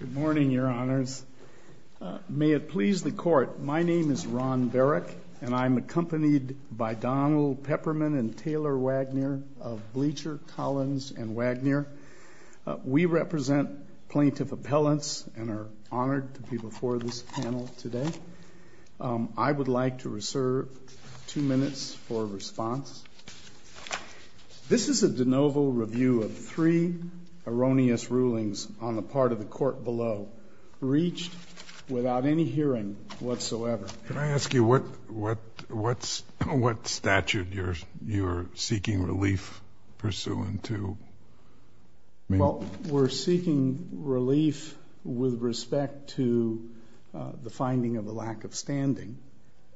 Good morning, Your Honors. May it please the Court, my name is Ron Berrick, and I'm accompanied by Donald Peppermint and Taylor Wagner of Bleacher, Collins, and Wagner. We represent plaintiff appellants and are honored to be before this panel today. I would like to reserve two minutes for response. This is a de novo review of three erroneous rulings on the part of the Court below, reached without any hearing whatsoever. Can I ask you what statute you're seeking relief pursuant to? Well, we're seeking relief with respect to the finding of a lack of standing,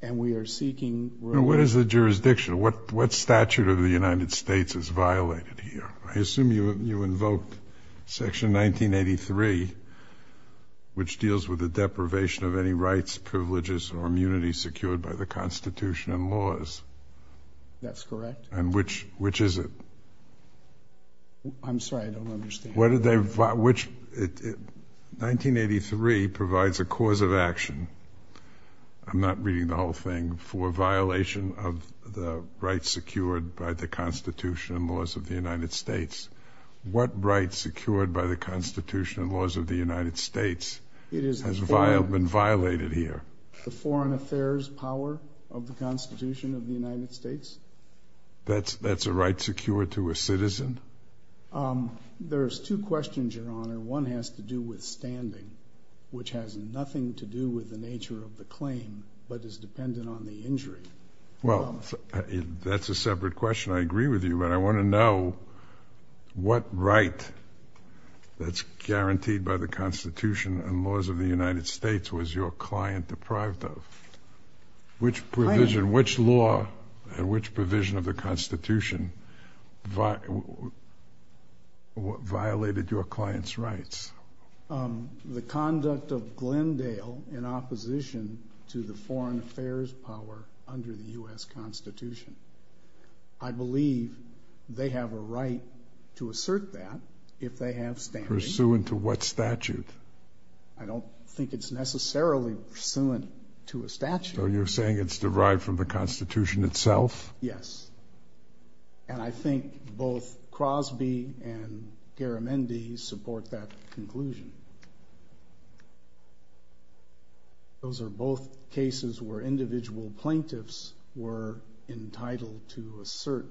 and we are seeking relief. What is the jurisdiction? What statute of the United States is violated here? I assume you invoked Section 1983, which deals with the deprivation of any rights, privileges, or immunity secured by the Constitution and laws. That's correct. And which is it? I'm sorry, I don't understand. 1983 provides a cause of action, I'm not reading the whole thing, for violation of the rights secured by the Constitution and laws of the United States. What rights secured by the Constitution and laws of the United States has been violated here? The foreign affairs power of the Constitution of the United States? That's a right secured to a citizen? There's two questions, Your Honor. One has to do with standing, which has nothing to do with the nature of the claim, but is dependent on the injury. Well, that's a separate question. I agree with you, but I want to know what right that's guaranteed by the Constitution and laws of the United States was your client deprived of? Which provision, which law, and which provision of the Constitution violated your client's rights? The conduct of Glendale in opposition to the foreign affairs power under the U.S. Constitution. I believe they have a right to assert that if they have standing. Pursuant to what statute? I don't think it's necessarily pursuant to a statute. So you're saying it's derived from the Constitution itself? Yes. And I think both Crosby and Garamendi support that conclusion. Those are both cases where individual plaintiffs were entitled to assert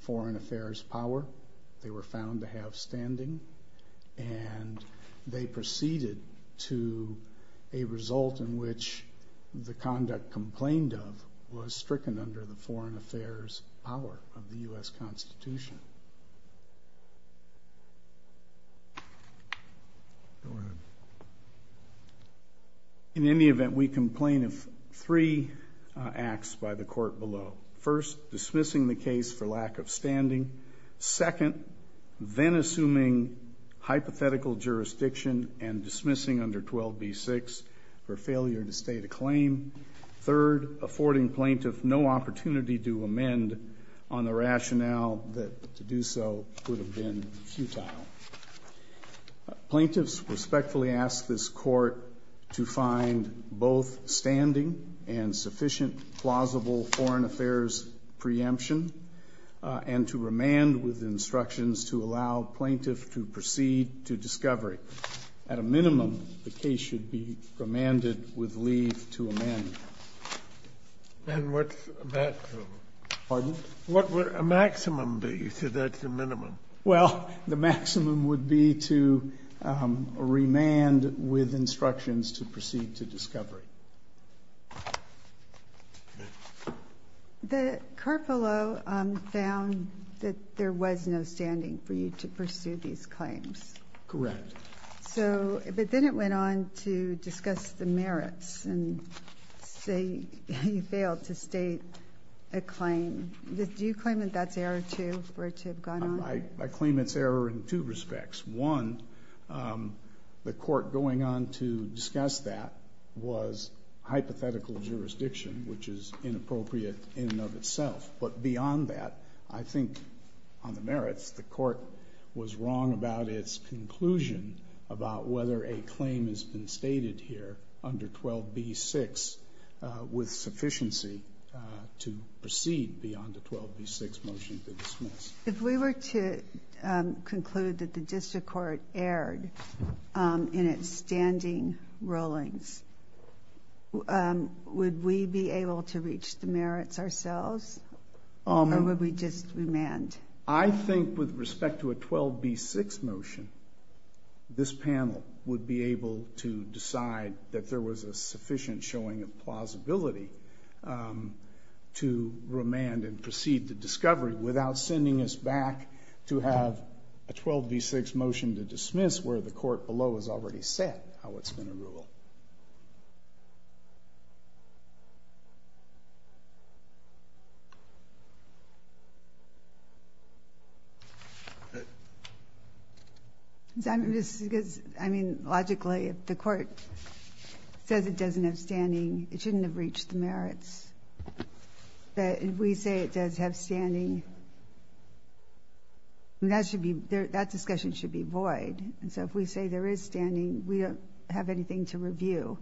foreign affairs power. They were found to have standing and they proceeded to a result in which the conduct complained of was stricken under the foreign affairs power of the U.S. Constitution. In any event, we complain of three acts by the court below. First, dismissing the case for lack of standing. Second, then assuming hypothetical jurisdiction and dismissing under 12b-6 for failure to state a claim. Third, affording plaintiff no opportunity to amend on the rationale that to do so would have been futile. Plaintiffs respectfully ask this court to find both standing and sufficient plausible foreign affairs preemption and to remand with instructions to allow plaintiff to proceed to discovery. At a minimum, the case should be remanded with leave to amend. And what's a maximum? Pardon? What would a maximum be? You said that's a minimum. Well, the maximum would be to remand with instructions to proceed to discovery. The court below found that there was no standing for you to pursue these claims. Correct. But then it went on to discuss the merits and say you failed to state a claim. Do you claim that that's error two, or to have gone on? I claim it's error in two respects. One, the court going on to discuss that was hypothetical jurisdiction, which is inappropriate in and of itself. But beyond that, I think on the merits, the court was wrong about its conclusion about whether a claim has been stated here under 12b-6 with sufficiency to proceed beyond the 12b-6 motion to dismiss. If we were to conclude that the district court erred in its standing rulings, would we be able to reach the merits ourselves? Or would we just remand? I think with respect to a 12b-6 motion, this panel would be able to decide that there was a sufficient showing of plausibility to remand and proceed to discovery without sending us back to have a 12b-6 motion to dismiss where the court below has already set how it's going to rule. Logically, if the court says it doesn't have standing, it shouldn't have reached the merits. But if we say it does have standing, that discussion should be void. So if we say there is standing, we don't have anything to review.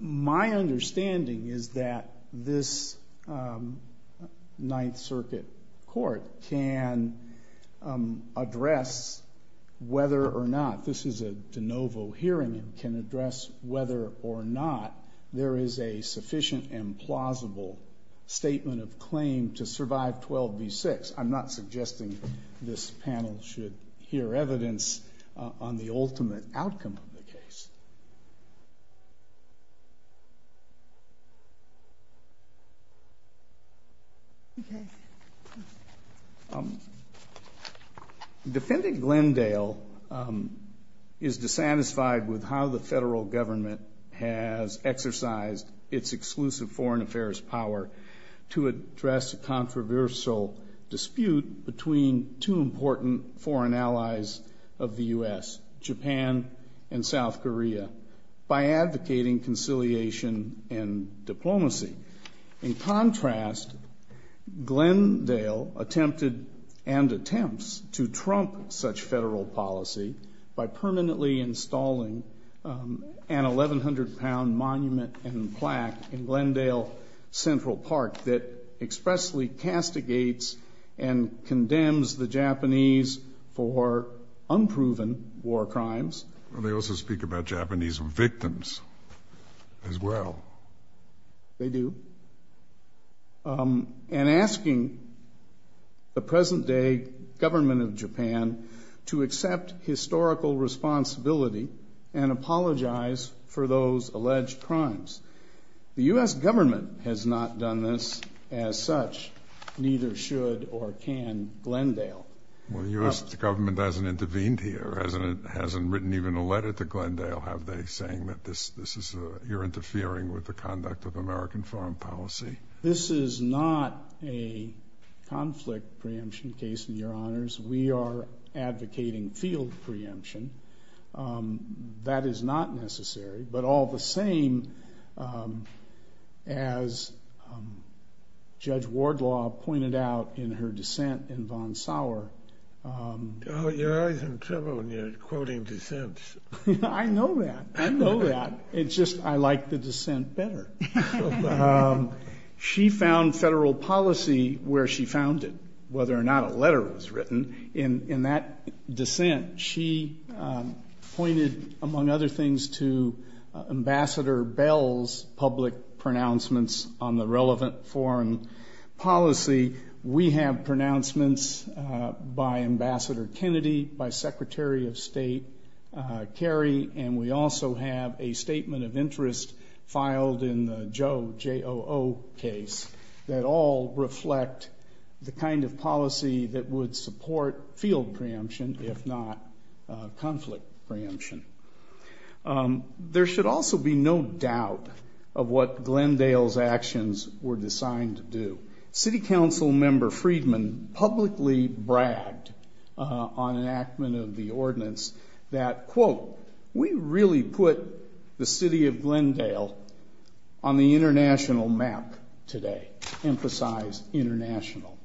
My understanding is that this Ninth Circuit court can address whether or not this is a de novo hearing and can address whether or not there is a sufficient and plausible statement of claim to survive 12b-6. I'm not suggesting this panel should hear evidence on the ultimate outcome of the case. Defendant Glendale is dissatisfied with how the federal government has exercised its exclusive foreign affairs power to address a controversial dispute between two important foreign allies of the U.S., Japan and South Korea, by advocating conciliation and diplomacy. In contrast, Glendale attempted and attempts to trump such federal policy by permanently installing an 1,100-pound monument and plaque in Glendale Central Park that expressly castigates and condemns the Japanese for unproven war crimes. They also speak about Japanese victims as well. They do. And asking the present-day government of Japan to accept historical responsibility and apologize for those alleged crimes. The U.S. government has not done this. As such, neither should or can Glendale. Well, the U.S. government hasn't intervened here, hasn't written even a letter to Glendale, have they, saying that you're interfering with the conduct of American foreign policy? This is not a conflict preemption case, Your Honors. We are advocating field preemption. That is not necessary. But all the same, as Judge Wardlaw pointed out in her dissent in Von Sauer... You're always in trouble when you're quoting dissents. I know that. I know that. It's just I like the dissent better. She found federal policy where she found it, whether or not a letter was written. In that dissent, she pointed, among other things, to Ambassador Bell's public pronouncements on the relevant foreign policy. We have pronouncements by Ambassador Kennedy, by Secretary of State Kerry, and we also have a statement of interest filed in the Joe J.O.O. case that all reflect the kind of policy that would support field preemption, if not conflict preemption. There should also be no doubt of what Glendale's actions were designed to do. City Council Member Friedman publicly bragged on enactment of the ordinance that, quote, we really put the city of Glendale on the international map today. Emphasize international.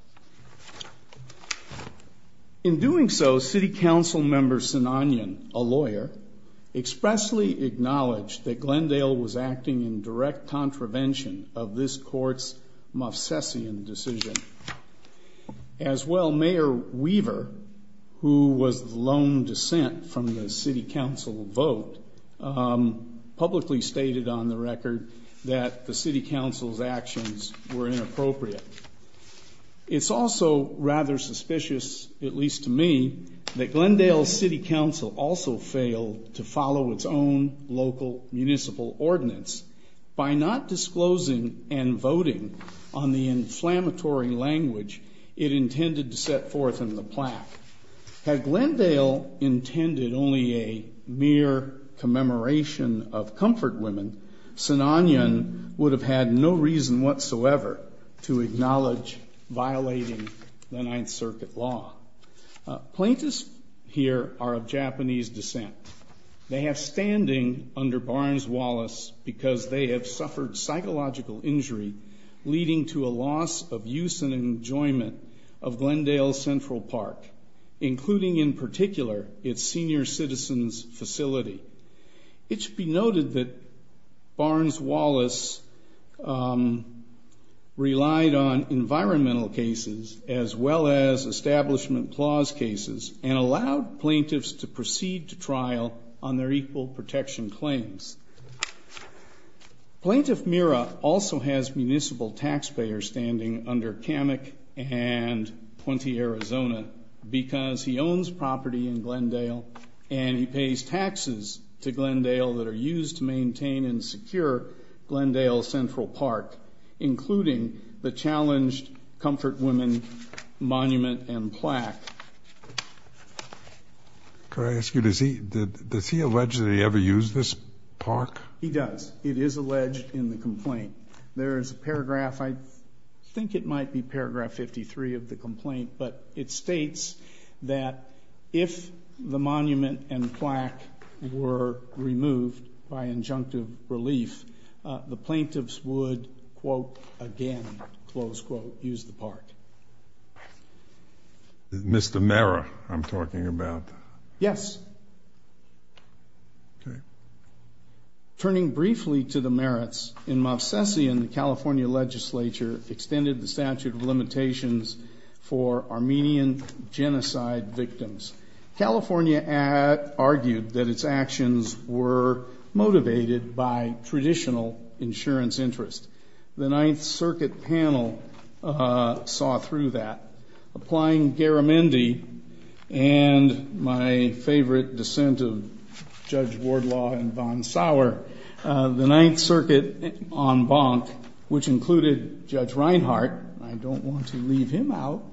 In doing so, City Council Member Sinanian, a lawyer, expressly acknowledged that Glendale was acting in direct contravention of this court's Moffsesian decision. As well, Mayor Weaver, who was the lone dissent from the City Council vote, publicly stated on the record that the City Council's actions were inappropriate. It's also rather suspicious, at least to me, that Glendale City Council also failed to follow its own local municipal ordinance by not disclosing and voting on the inflammatory language it intended to set forth in the plaque. Had Glendale intended only a mere commemoration of comfort women, Sinanian would have had no reason whatsoever to acknowledge violating the Ninth Circuit law. Plaintiffs here are of Japanese descent. They have standing under Barnes-Wallace because they have suffered psychological injury leading to a loss of use and enjoyment of Glendale Central Park, including in particular its senior citizens' facility. It should be noted that Barnes-Wallace relied on environmental cases as well as establishment clause cases and allowed plaintiffs to proceed to trial on their equal protection claims. Plaintiff Mira also has municipal taxpayer standing under Kamek and Puente, Arizona, because he owns property in Glendale and he pays taxes to Glendale that are used to maintain and secure Glendale Central Park, including the challenged comfort women monument and plaque. Could I ask you, does he allege that he ever used this park? He does. It is alleged in the complaint. There is a paragraph, I think it might be paragraph 53 of the complaint, but it states that if the monument and plaque were removed by injunctive relief, the plaintiffs would, quote, again, close quote, use the park. Mr. Mira, I'm talking about. Yes. Turning briefly to the merits, in Mobsessian, the California legislature extended the statute of limitations for Armenian genocide victims. California argued that its actions were motivated by traditional insurance interest. The Ninth Circuit panel saw through that. Applying Garamendi and my favorite dissent of Judge Wardlaw and von Sauer, the Ninth Circuit en banc, which included Judge Reinhart, I don't want to leave him out,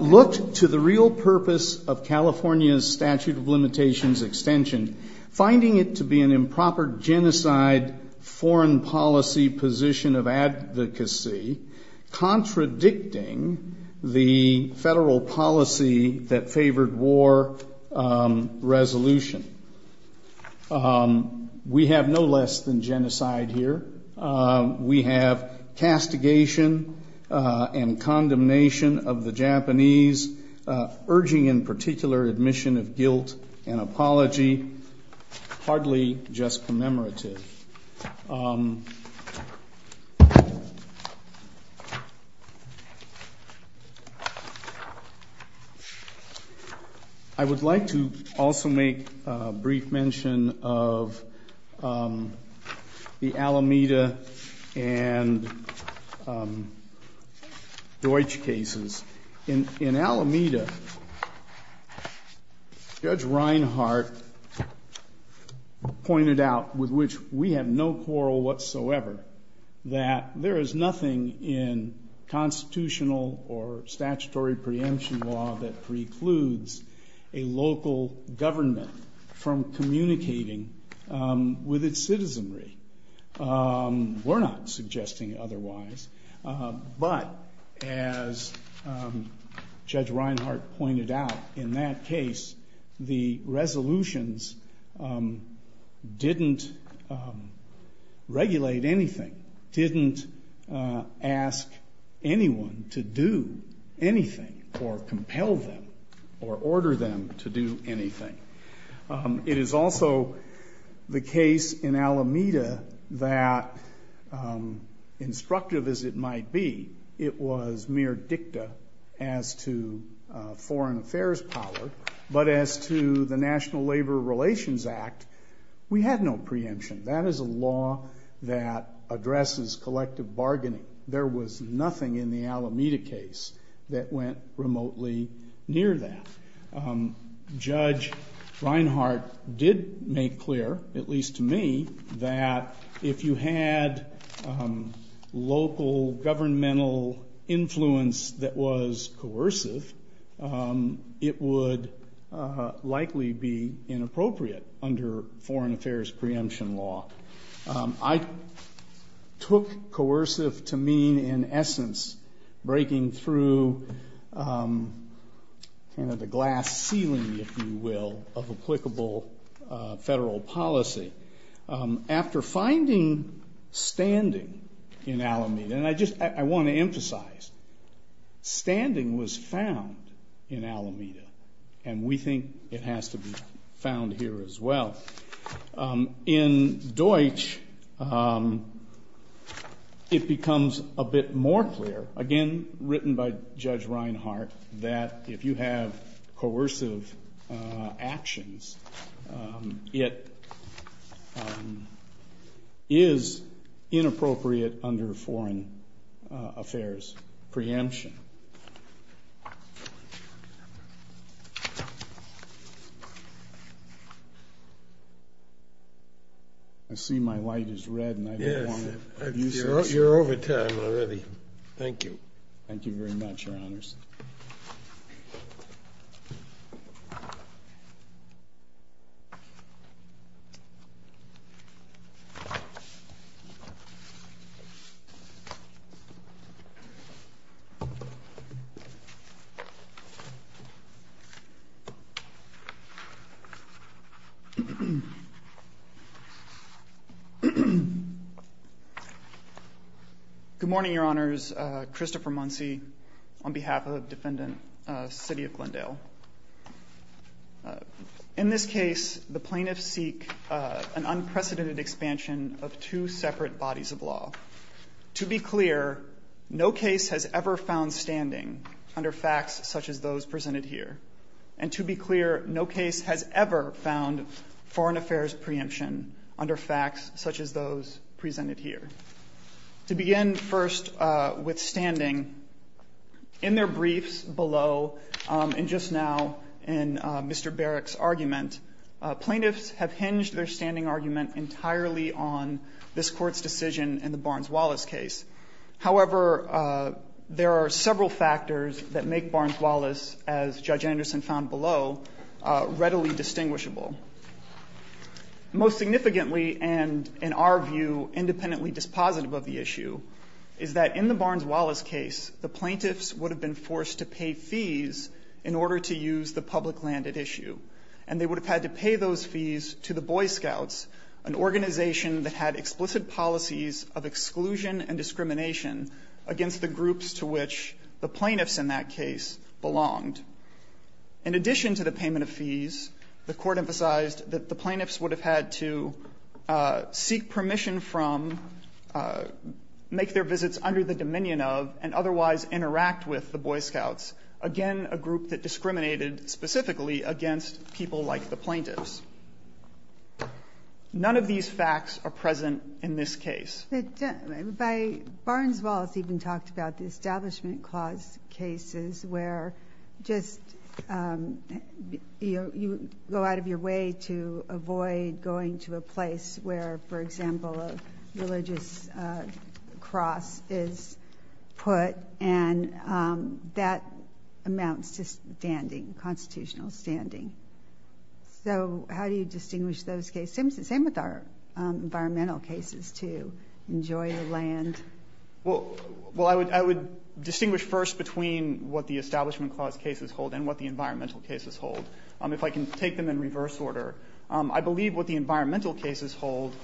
looked to the real purpose of California's statute of limitations extension, finding it to be an improper genocide foreign policy position of advocacy, contradicting the federal policy that favored war resolution. We have no less than genocide here. We have castigation and condemnation of the Japanese, urging in particular admission of guilt and apology, hardly just commemorative. I would like to also make a brief mention of the Alameda and Deutsch cases. In Alameda, Judge Reinhart pointed out, with which we have no quarrel whatsoever, that there is nothing in constitutional or statutory preemption law that precludes a local government from communicating with its citizenry. We're not suggesting otherwise. But as Judge Reinhart pointed out, in that case, the resolutions didn't regulate anything, didn't ask anyone to do anything or compel them or order them to do anything. It is also the case in Alameda that, instructive as it might be, it was mere dicta as to foreign affairs power, but as to the National Labor Relations Act, we had no preemption. That is a law that addresses collective bargaining. There was nothing in the Alameda case that went remotely near that. Judge Reinhart did make clear, at least to me, that if you had local governmental influence that was coercive, it would likely be inappropriate under foreign affairs preemption law. I took coercive to mean, in essence, breaking through the glass ceiling, if you will, of applicable federal policy. After finding standing in Alameda, and I want to emphasize, standing was found in Alameda, and we think it has to be found here as well. In Deutsch, it becomes a bit more clear, again, written by Judge Reinhart, that if you have coercive actions, it is inappropriate under foreign affairs preemption. I see my light is red, and I don't want to abuse it. You're over time already. Thank you. Thank you very much, Your Honors. Good morning, Your Honors. Christopher Muncy on behalf of Defendant, City of Glendale. In this case, the plaintiffs seek an unprecedented expansion of two separate bodies of law. To be clear, no case has ever found standing under facts such as those presented here, and to be clear, no case has ever found foreign affairs preemption under facts such as those presented here. To begin first with standing, in their briefs below, and just now in Mr. Barrack's argument, plaintiffs have hinged their standing argument entirely on this Court's decision in the Barnes-Wallace case. However, there are several factors that make Barnes-Wallace, as Judge Anderson found below, readily distinguishable. Most significantly, and in our view, independently dispositive of the issue, is that in the Barnes-Wallace case, the plaintiffs would have been forced to pay fees in order to use the public land at issue. And they would have had to pay those fees to the Boy Scouts, an organization that had explicit policies of exclusion and discrimination against the groups to which the plaintiffs in that case belonged. In addition to the payment of fees, the Court emphasized that the plaintiffs would have had to seek permission from, make their visits under the dominion of, and otherwise interact with the Boy Scouts, again a group that discriminated specifically against people like the plaintiffs. None of these facts are present in this case. But Barnes-Wallace even talked about the Establishment Clause cases where just, you know, you go out of your way to avoid going to a place where, for example, a religious cross is put, and that amounts to standing, constitutional standing. So how do you distinguish those cases? Same with our environmental cases, too. Enjoy the land. Well, I would distinguish first between what the Establishment Clause cases hold and what the environmental cases hold. If I can take them in reverse order, I believe what the environmental cases hold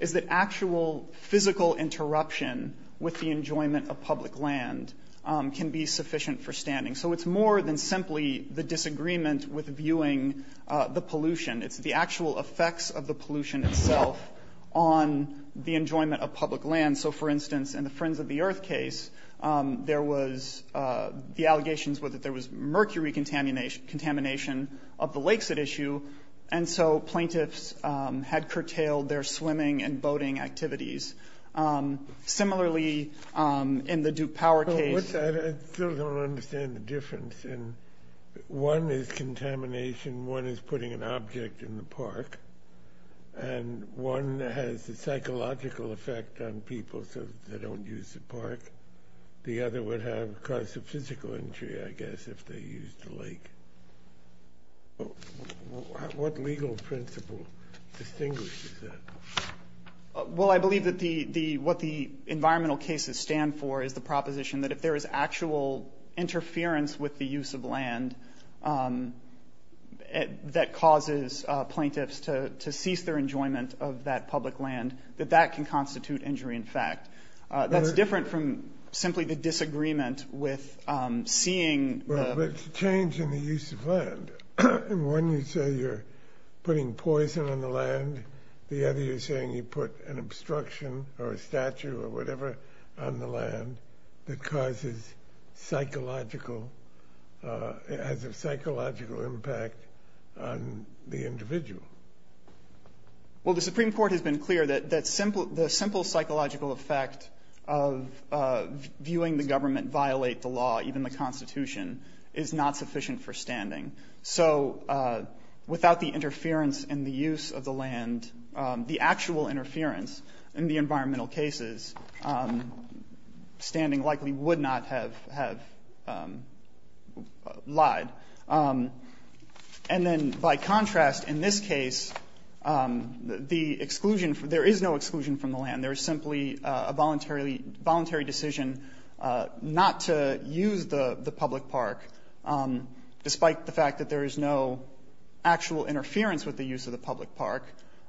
is that actual physical interruption with the enjoyment of public land can be sufficient for standing. So it's more than simply the disagreement with viewing the pollution. It's the actual effects of the pollution itself on the enjoyment of public land. So, for instance, in the Friends of the Earth case, there was, the allegations were that there was mercury contamination of the lakes at issue, and so plaintiffs had curtailed their swimming and boating activities. Similarly, in the Duke Power case. I still don't understand the difference. One is contamination, one is putting an object in the park, and one has a psychological effect on people so they don't use the park. The other would cause a physical injury, I guess, if they used the lake. What legal principle distinguishes that? Well, I believe that what the environmental cases stand for is the proposition that if there is actual interference with the use of land that causes plaintiffs to cease their enjoyment of that public land, that that can constitute injury in fact. That's different from simply the disagreement with seeing the... Well, but it's a change in the use of land. One, you say you're putting poison on the land. The other, you're saying you put an obstruction or a statue or whatever on the land that causes psychological, has a psychological impact on the individual. Well, the Supreme Court has been clear that the simple psychological effect of viewing the government violate the law, even the Constitution, is not sufficient for standing. So without the interference in the use of the land, the actual interference in the environmental cases, standing likely would not have lied. And then by contrast, in this case, there is no exclusion from the land. There is simply a voluntary decision not to use the public park, despite the fact that there is no actual interference with the use of the public park.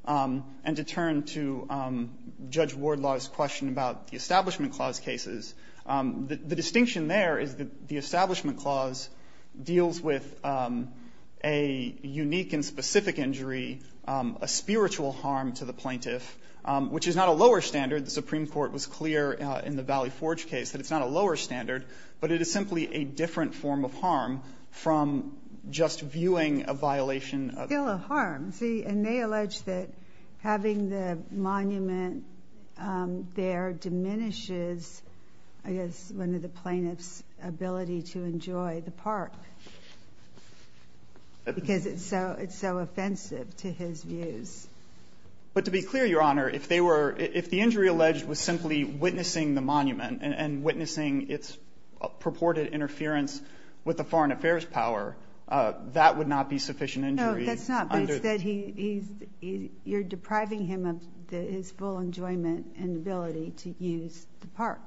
And to turn to Judge Wardlaw's question about the Establishment Clause cases, the distinction there is that the Establishment Clause deals with a unique and specific injury, a spiritual harm to the plaintiff, which is not a lower standard. The Supreme Court was clear in the Valley Forge case that it's not a lower standard, but it is simply a different form of harm from just viewing a violation of the law. Still a harm. See, and they allege that having the monument there diminishes, I guess, one of the plaintiff's ability to enjoy the park because it's so offensive to his views. But to be clear, Your Honor, if the injury alleged was simply witnessing the monument and witnessing its purported interference with the foreign affairs power, that would not be sufficient injury. No, that's not. But instead, you're depriving him of his full enjoyment and ability to use the park.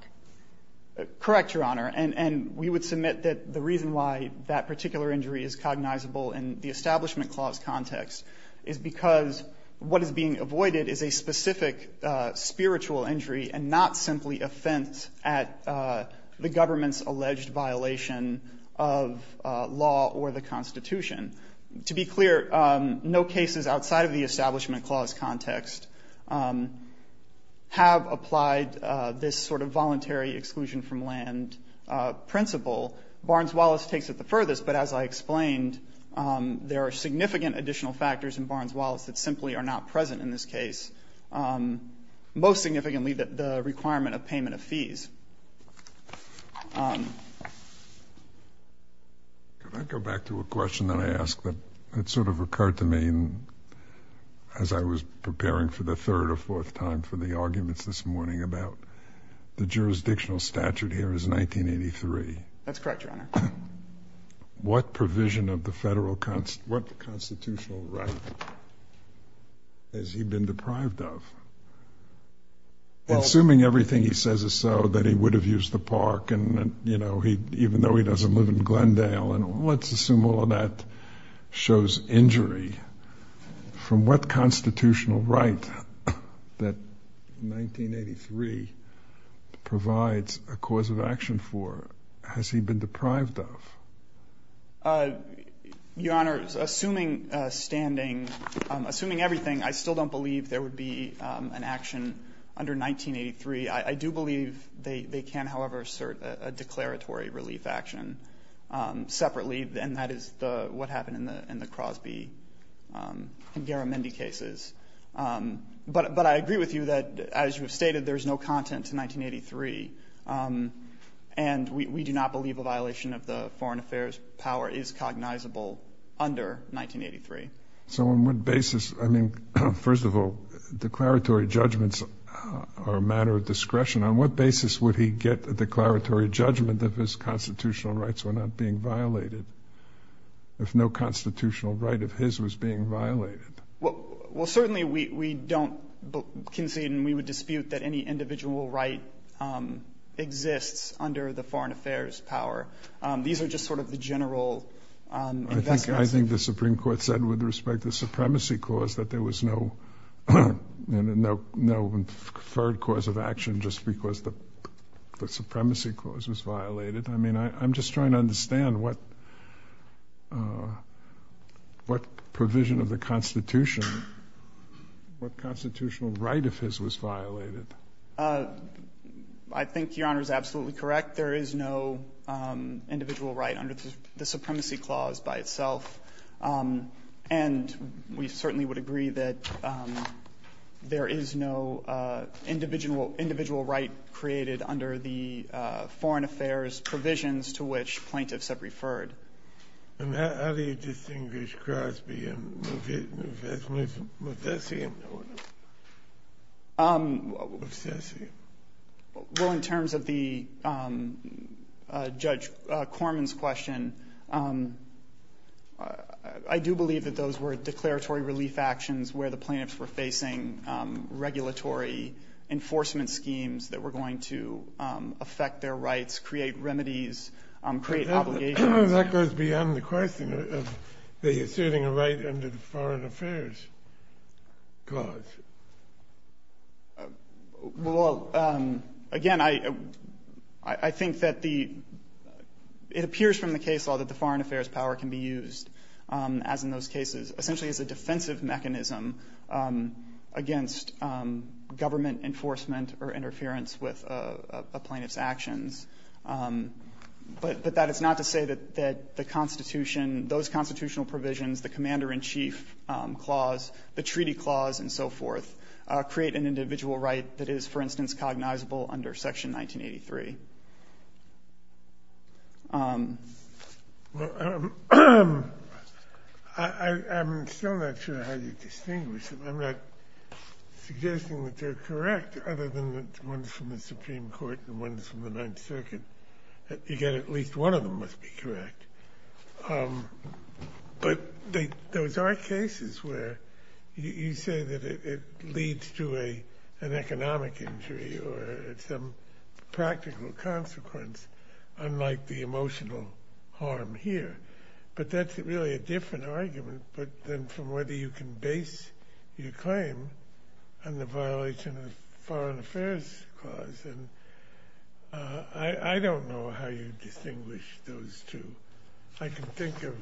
Correct, Your Honor. And we would submit that the reason why that particular injury is cognizable in the Establishment Clause context is because what is being avoided is a specific spiritual injury and not simply offense at the government's alleged violation of law or the Constitution. To be clear, no cases outside of the Establishment Clause context have applied this sort of voluntary exclusion from land principle. But as I explained, there are significant additional factors in Barnes-Wallace that simply are not present in this case, most significantly the requirement of payment of fees. Can I go back to a question that I asked that sort of occurred to me as I was preparing for the third or fourth time for the arguments this morning about the jurisdictional statute here is 1983? That's correct, Your Honor. What provision of the federal constitutional right has he been deprived of? Assuming everything he says is so, that he would have used the park, even though he doesn't live in Glendale, and let's assume all of that shows injury, from what constitutional right that 1983 provides a cause of action for has he been deprived of? Your Honor, assuming everything, I still don't believe there would be an action under 1983. I do believe they can, however, assert a declaratory relief action separately, and that is what happened in the Crosby and Garamendi cases. But I agree with you that, as you have stated, there is no content to 1983. And we do not believe a violation of the foreign affairs power is cognizable under 1983. So on what basis? I mean, first of all, declaratory judgments are a matter of discretion. On what basis would he get a declaratory judgment if his constitutional rights were not being violated, if no constitutional right of his was being violated? Well, certainly we don't concede and we would dispute that any individual right exists under the foreign affairs power. These are just sort of the general investments. I think the Supreme Court said, with respect to the supremacy clause, that there was no preferred cause of action just because the supremacy clause was violated. I mean, I'm just trying to understand what provision of the Constitution, what constitutional right of his was violated. I think Your Honor is absolutely correct. There is no individual right under the supremacy clause by itself. And we certainly would agree that there is no individual right created under the foreign affairs provisions to which plaintiffs have referred. And how do you distinguish Crosby and Mufessian? Mufessian. Well, in terms of the Judge Corman's question, I do believe that those were declaratory relief actions where the plaintiffs were facing regulatory enforcement schemes that were going to affect their rights, create remedies, create obligations. That goes beyond the question of the asserting a right under the foreign affairs clause. Well, again, I think that it appears from the case law that the foreign affairs power can be used, as in those cases, essentially as a defensive mechanism against government enforcement or interference with a plaintiff's actions. But that is not to say that the Constitution, those constitutional provisions, the commander-in-chief clause, the treaty clause, and so forth, create an individual right that is, for instance, cognizable under Section 1983. Well, I'm still not sure how you distinguish them. I'm not suggesting that they're correct, other than the ones from the Supreme Court and the ones from the Ninth Circuit. You get at least one of them must be correct. But those are cases where you say that it leads to an economic injury or some practical consequence, unlike the emotional harm here. But that's really a different argument from whether you can base your claim on the violation of the foreign affairs clause. I don't know how you distinguish those two. I can think of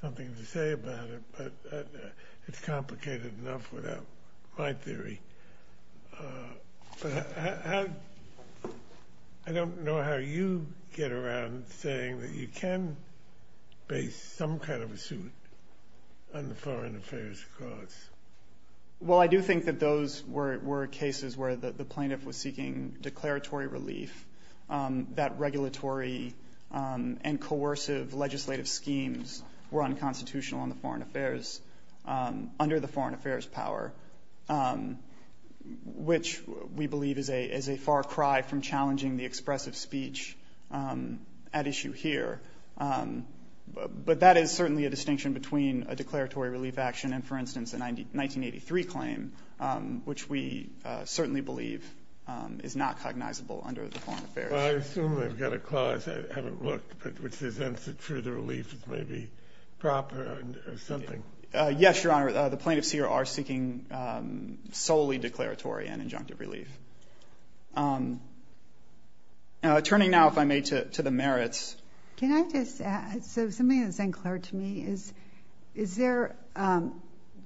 something to say about it, but it's complicated enough without my theory. But I don't know how you get around saying that you can base some kind of a suit on the foreign affairs clause. Well, I do think that those were cases where the plaintiff was seeking declaratory relief, that regulatory and coercive legislative schemes were unconstitutional under the foreign affairs power, which we believe is a far cry from challenging the expressive speech at issue here. But that is certainly a distinction between a declaratory relief action and, for instance, a 1983 claim, which we certainly believe is not cognizable under the foreign affairs. Well, I assume they've got a clause. I haven't looked, but which presents it for the relief as maybe proper or something. Yes, Your Honor. The plaintiffs here are seeking solely declaratory and injunctive relief. Turning now, if I may, to the merits. Can I just add something that's unclear to me?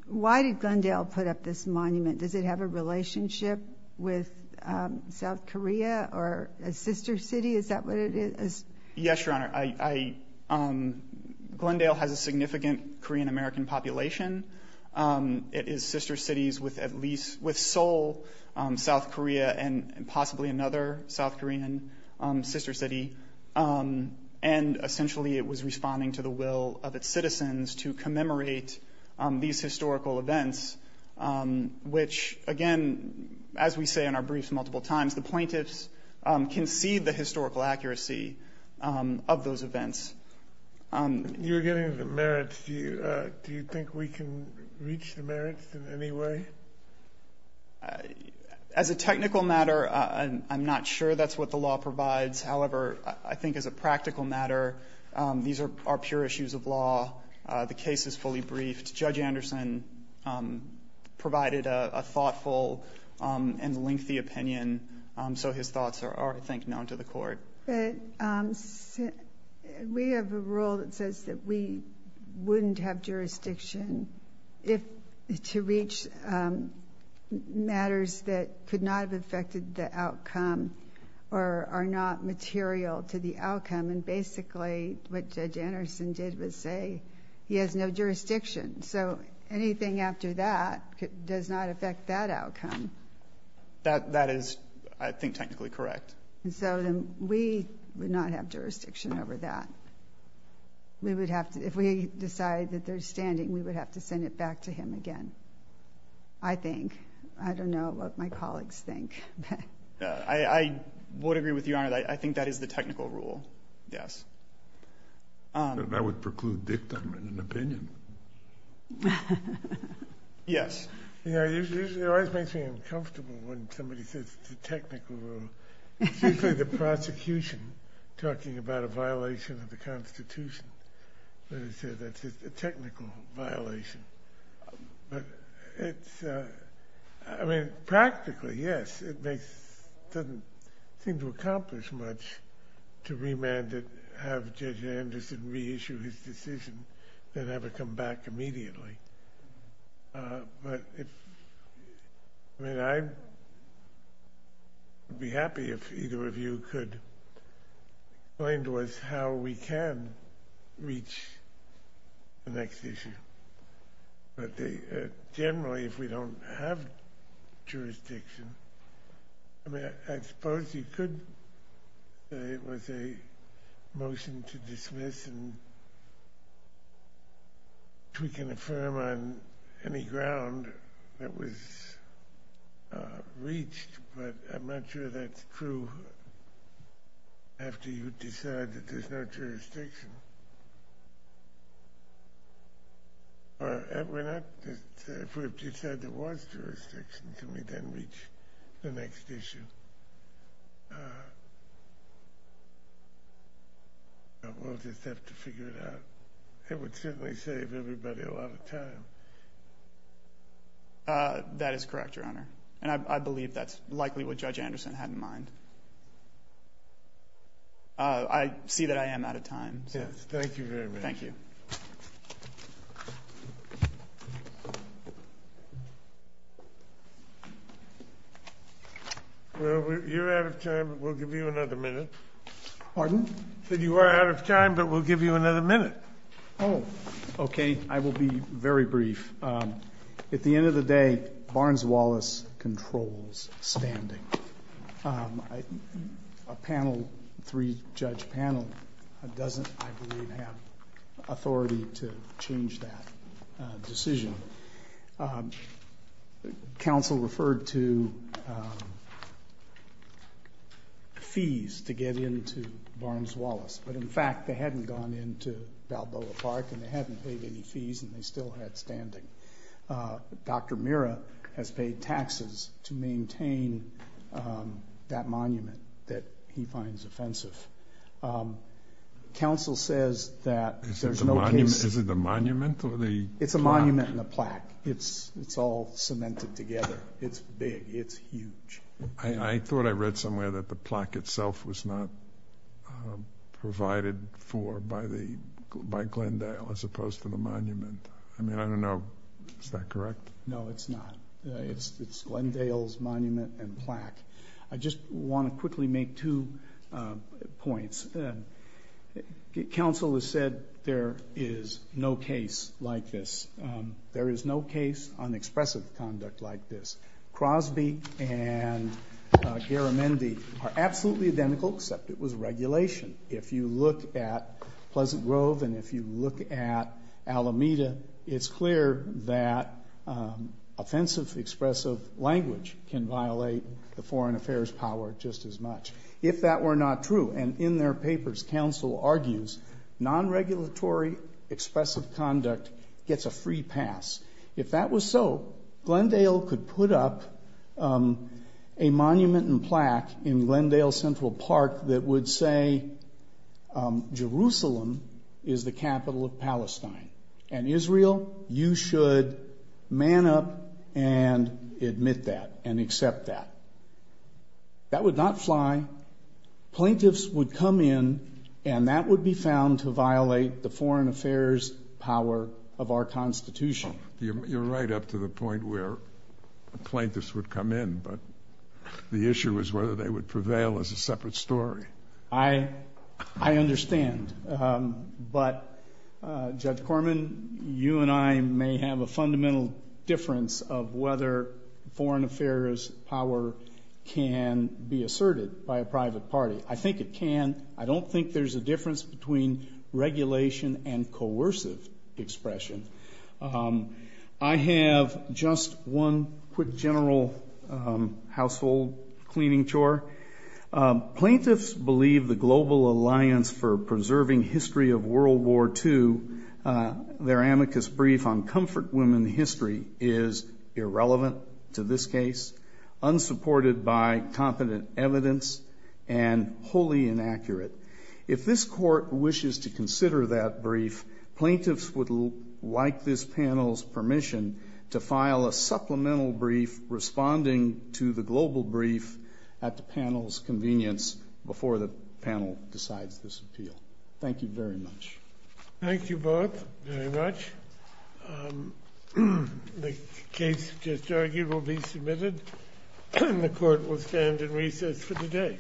Why did Glendale put up this monument? Does it have a relationship with South Korea or a sister city? Is that what it is? Yes, Your Honor. Glendale has a significant Korean-American population. It is sister cities with Seoul, South Korea, and possibly another South Korean sister city. And essentially it was responding to the will of its citizens to commemorate these historical events, which, again, as we say in our briefs multiple times, the plaintiffs concede the historical accuracy of those events. You're getting the merits. Do you think we can reach the merits in any way? As a technical matter, I'm not sure that's what the law provides. However, I think as a practical matter, these are pure issues of law. The case is fully briefed. Judge Anderson provided a thoughtful and lengthy opinion, so his thoughts are, I think, known to the court. We have a rule that says that we wouldn't have jurisdiction to reach matters that could not have affected the outcome or are not material to the outcome. And basically what Judge Anderson did was say he has no jurisdiction. So anything after that does not affect that outcome. That is, I think, technically correct. And so then we would not have jurisdiction over that. If we decide that there's standing, we would have to send it back to him again, I think. I don't know what my colleagues think. I would agree with you, Your Honor. I think that is the technical rule, yes. That would preclude dictum and opinion. Yes. You know, it always makes me uncomfortable when somebody says it's a technical rule. It's usually the prosecution talking about a violation of the Constitution when they say that's a technical violation. But it's, I mean, practically, yes. It doesn't seem to accomplish much to remand it, have Judge Anderson reissue his decision, then have it come back immediately. But I would be happy if either of you could explain to us how we can reach the next issue. But generally, if we don't have jurisdiction, I mean, I suppose you could say it was a motion to dismiss and we can affirm on any ground that was reached, but I'm not sure that's true after you decide that there's no jurisdiction. If we decide there was jurisdiction, can we then reach the next issue? We'll just have to figure it out. It would certainly save everybody a lot of time. That is correct, Your Honor. And I believe that's likely what Judge Anderson had in mind. I see that I am out of time. Thank you very much. Thank you. Thank you. Well, you're out of time, but we'll give you another minute. Pardon? You are out of time, but we'll give you another minute. Oh, okay. I will be very brief. At the end of the day, Barnes-Wallace controls standing. A panel, three-judge panel, doesn't, I believe, have authority to change that decision. Counsel referred to fees to get into Barnes-Wallace, but in fact they hadn't gone into Balboa Park and they hadn't paid any fees and they still had standing. Dr. Mira has paid taxes to maintain that monument that he finds offensive. Counsel says that there's no case. Is it the monument or the plaque? It's a monument and a plaque. It's all cemented together. It's big. It's huge. I thought I read somewhere that the plaque itself was not provided for by Glendale as opposed to the monument. I mean, I don't know. Is that correct? No, it's not. It's Glendale's monument and plaque. I just want to quickly make two points. Counsel has said there is no case like this. There is no case on expressive conduct like this. Crosby and Garamendi are absolutely identical, except it was regulation. If you look at Pleasant Grove and if you look at Alameda, it's clear that offensive expressive language can violate the foreign affairs power just as much. If that were not true, and in their papers, counsel argues non-regulatory expressive conduct gets a free pass. If that was so, Glendale could put up a monument and plaque in Glendale Central Park that would say Jerusalem is the capital of Palestine, and Israel, you should man up and admit that and accept that. That would not fly. Plaintiffs would come in, and that would be found to violate the foreign affairs power of our Constitution. You're right up to the point where plaintiffs would come in, but the issue is whether they would prevail as a separate story. I understand, but, Judge Corman, you and I may have a fundamental difference of whether foreign affairs power can be asserted by a private party. I think it can. I don't think there's a difference between regulation and coercive expression. I have just one quick general household cleaning chore. Plaintiffs believe the Global Alliance for Preserving History of World War II, their amicus brief on comfort women history, is irrelevant to this case, unsupported by competent evidence, and wholly inaccurate. If this court wishes to consider that brief, plaintiffs would like this panel's permission to file a supplemental brief responding to the global brief at the panel's convenience before the panel decides this appeal. Thank you very much. Thank you both very much. The case just argued will be submitted, and the court will stand in recess for the day.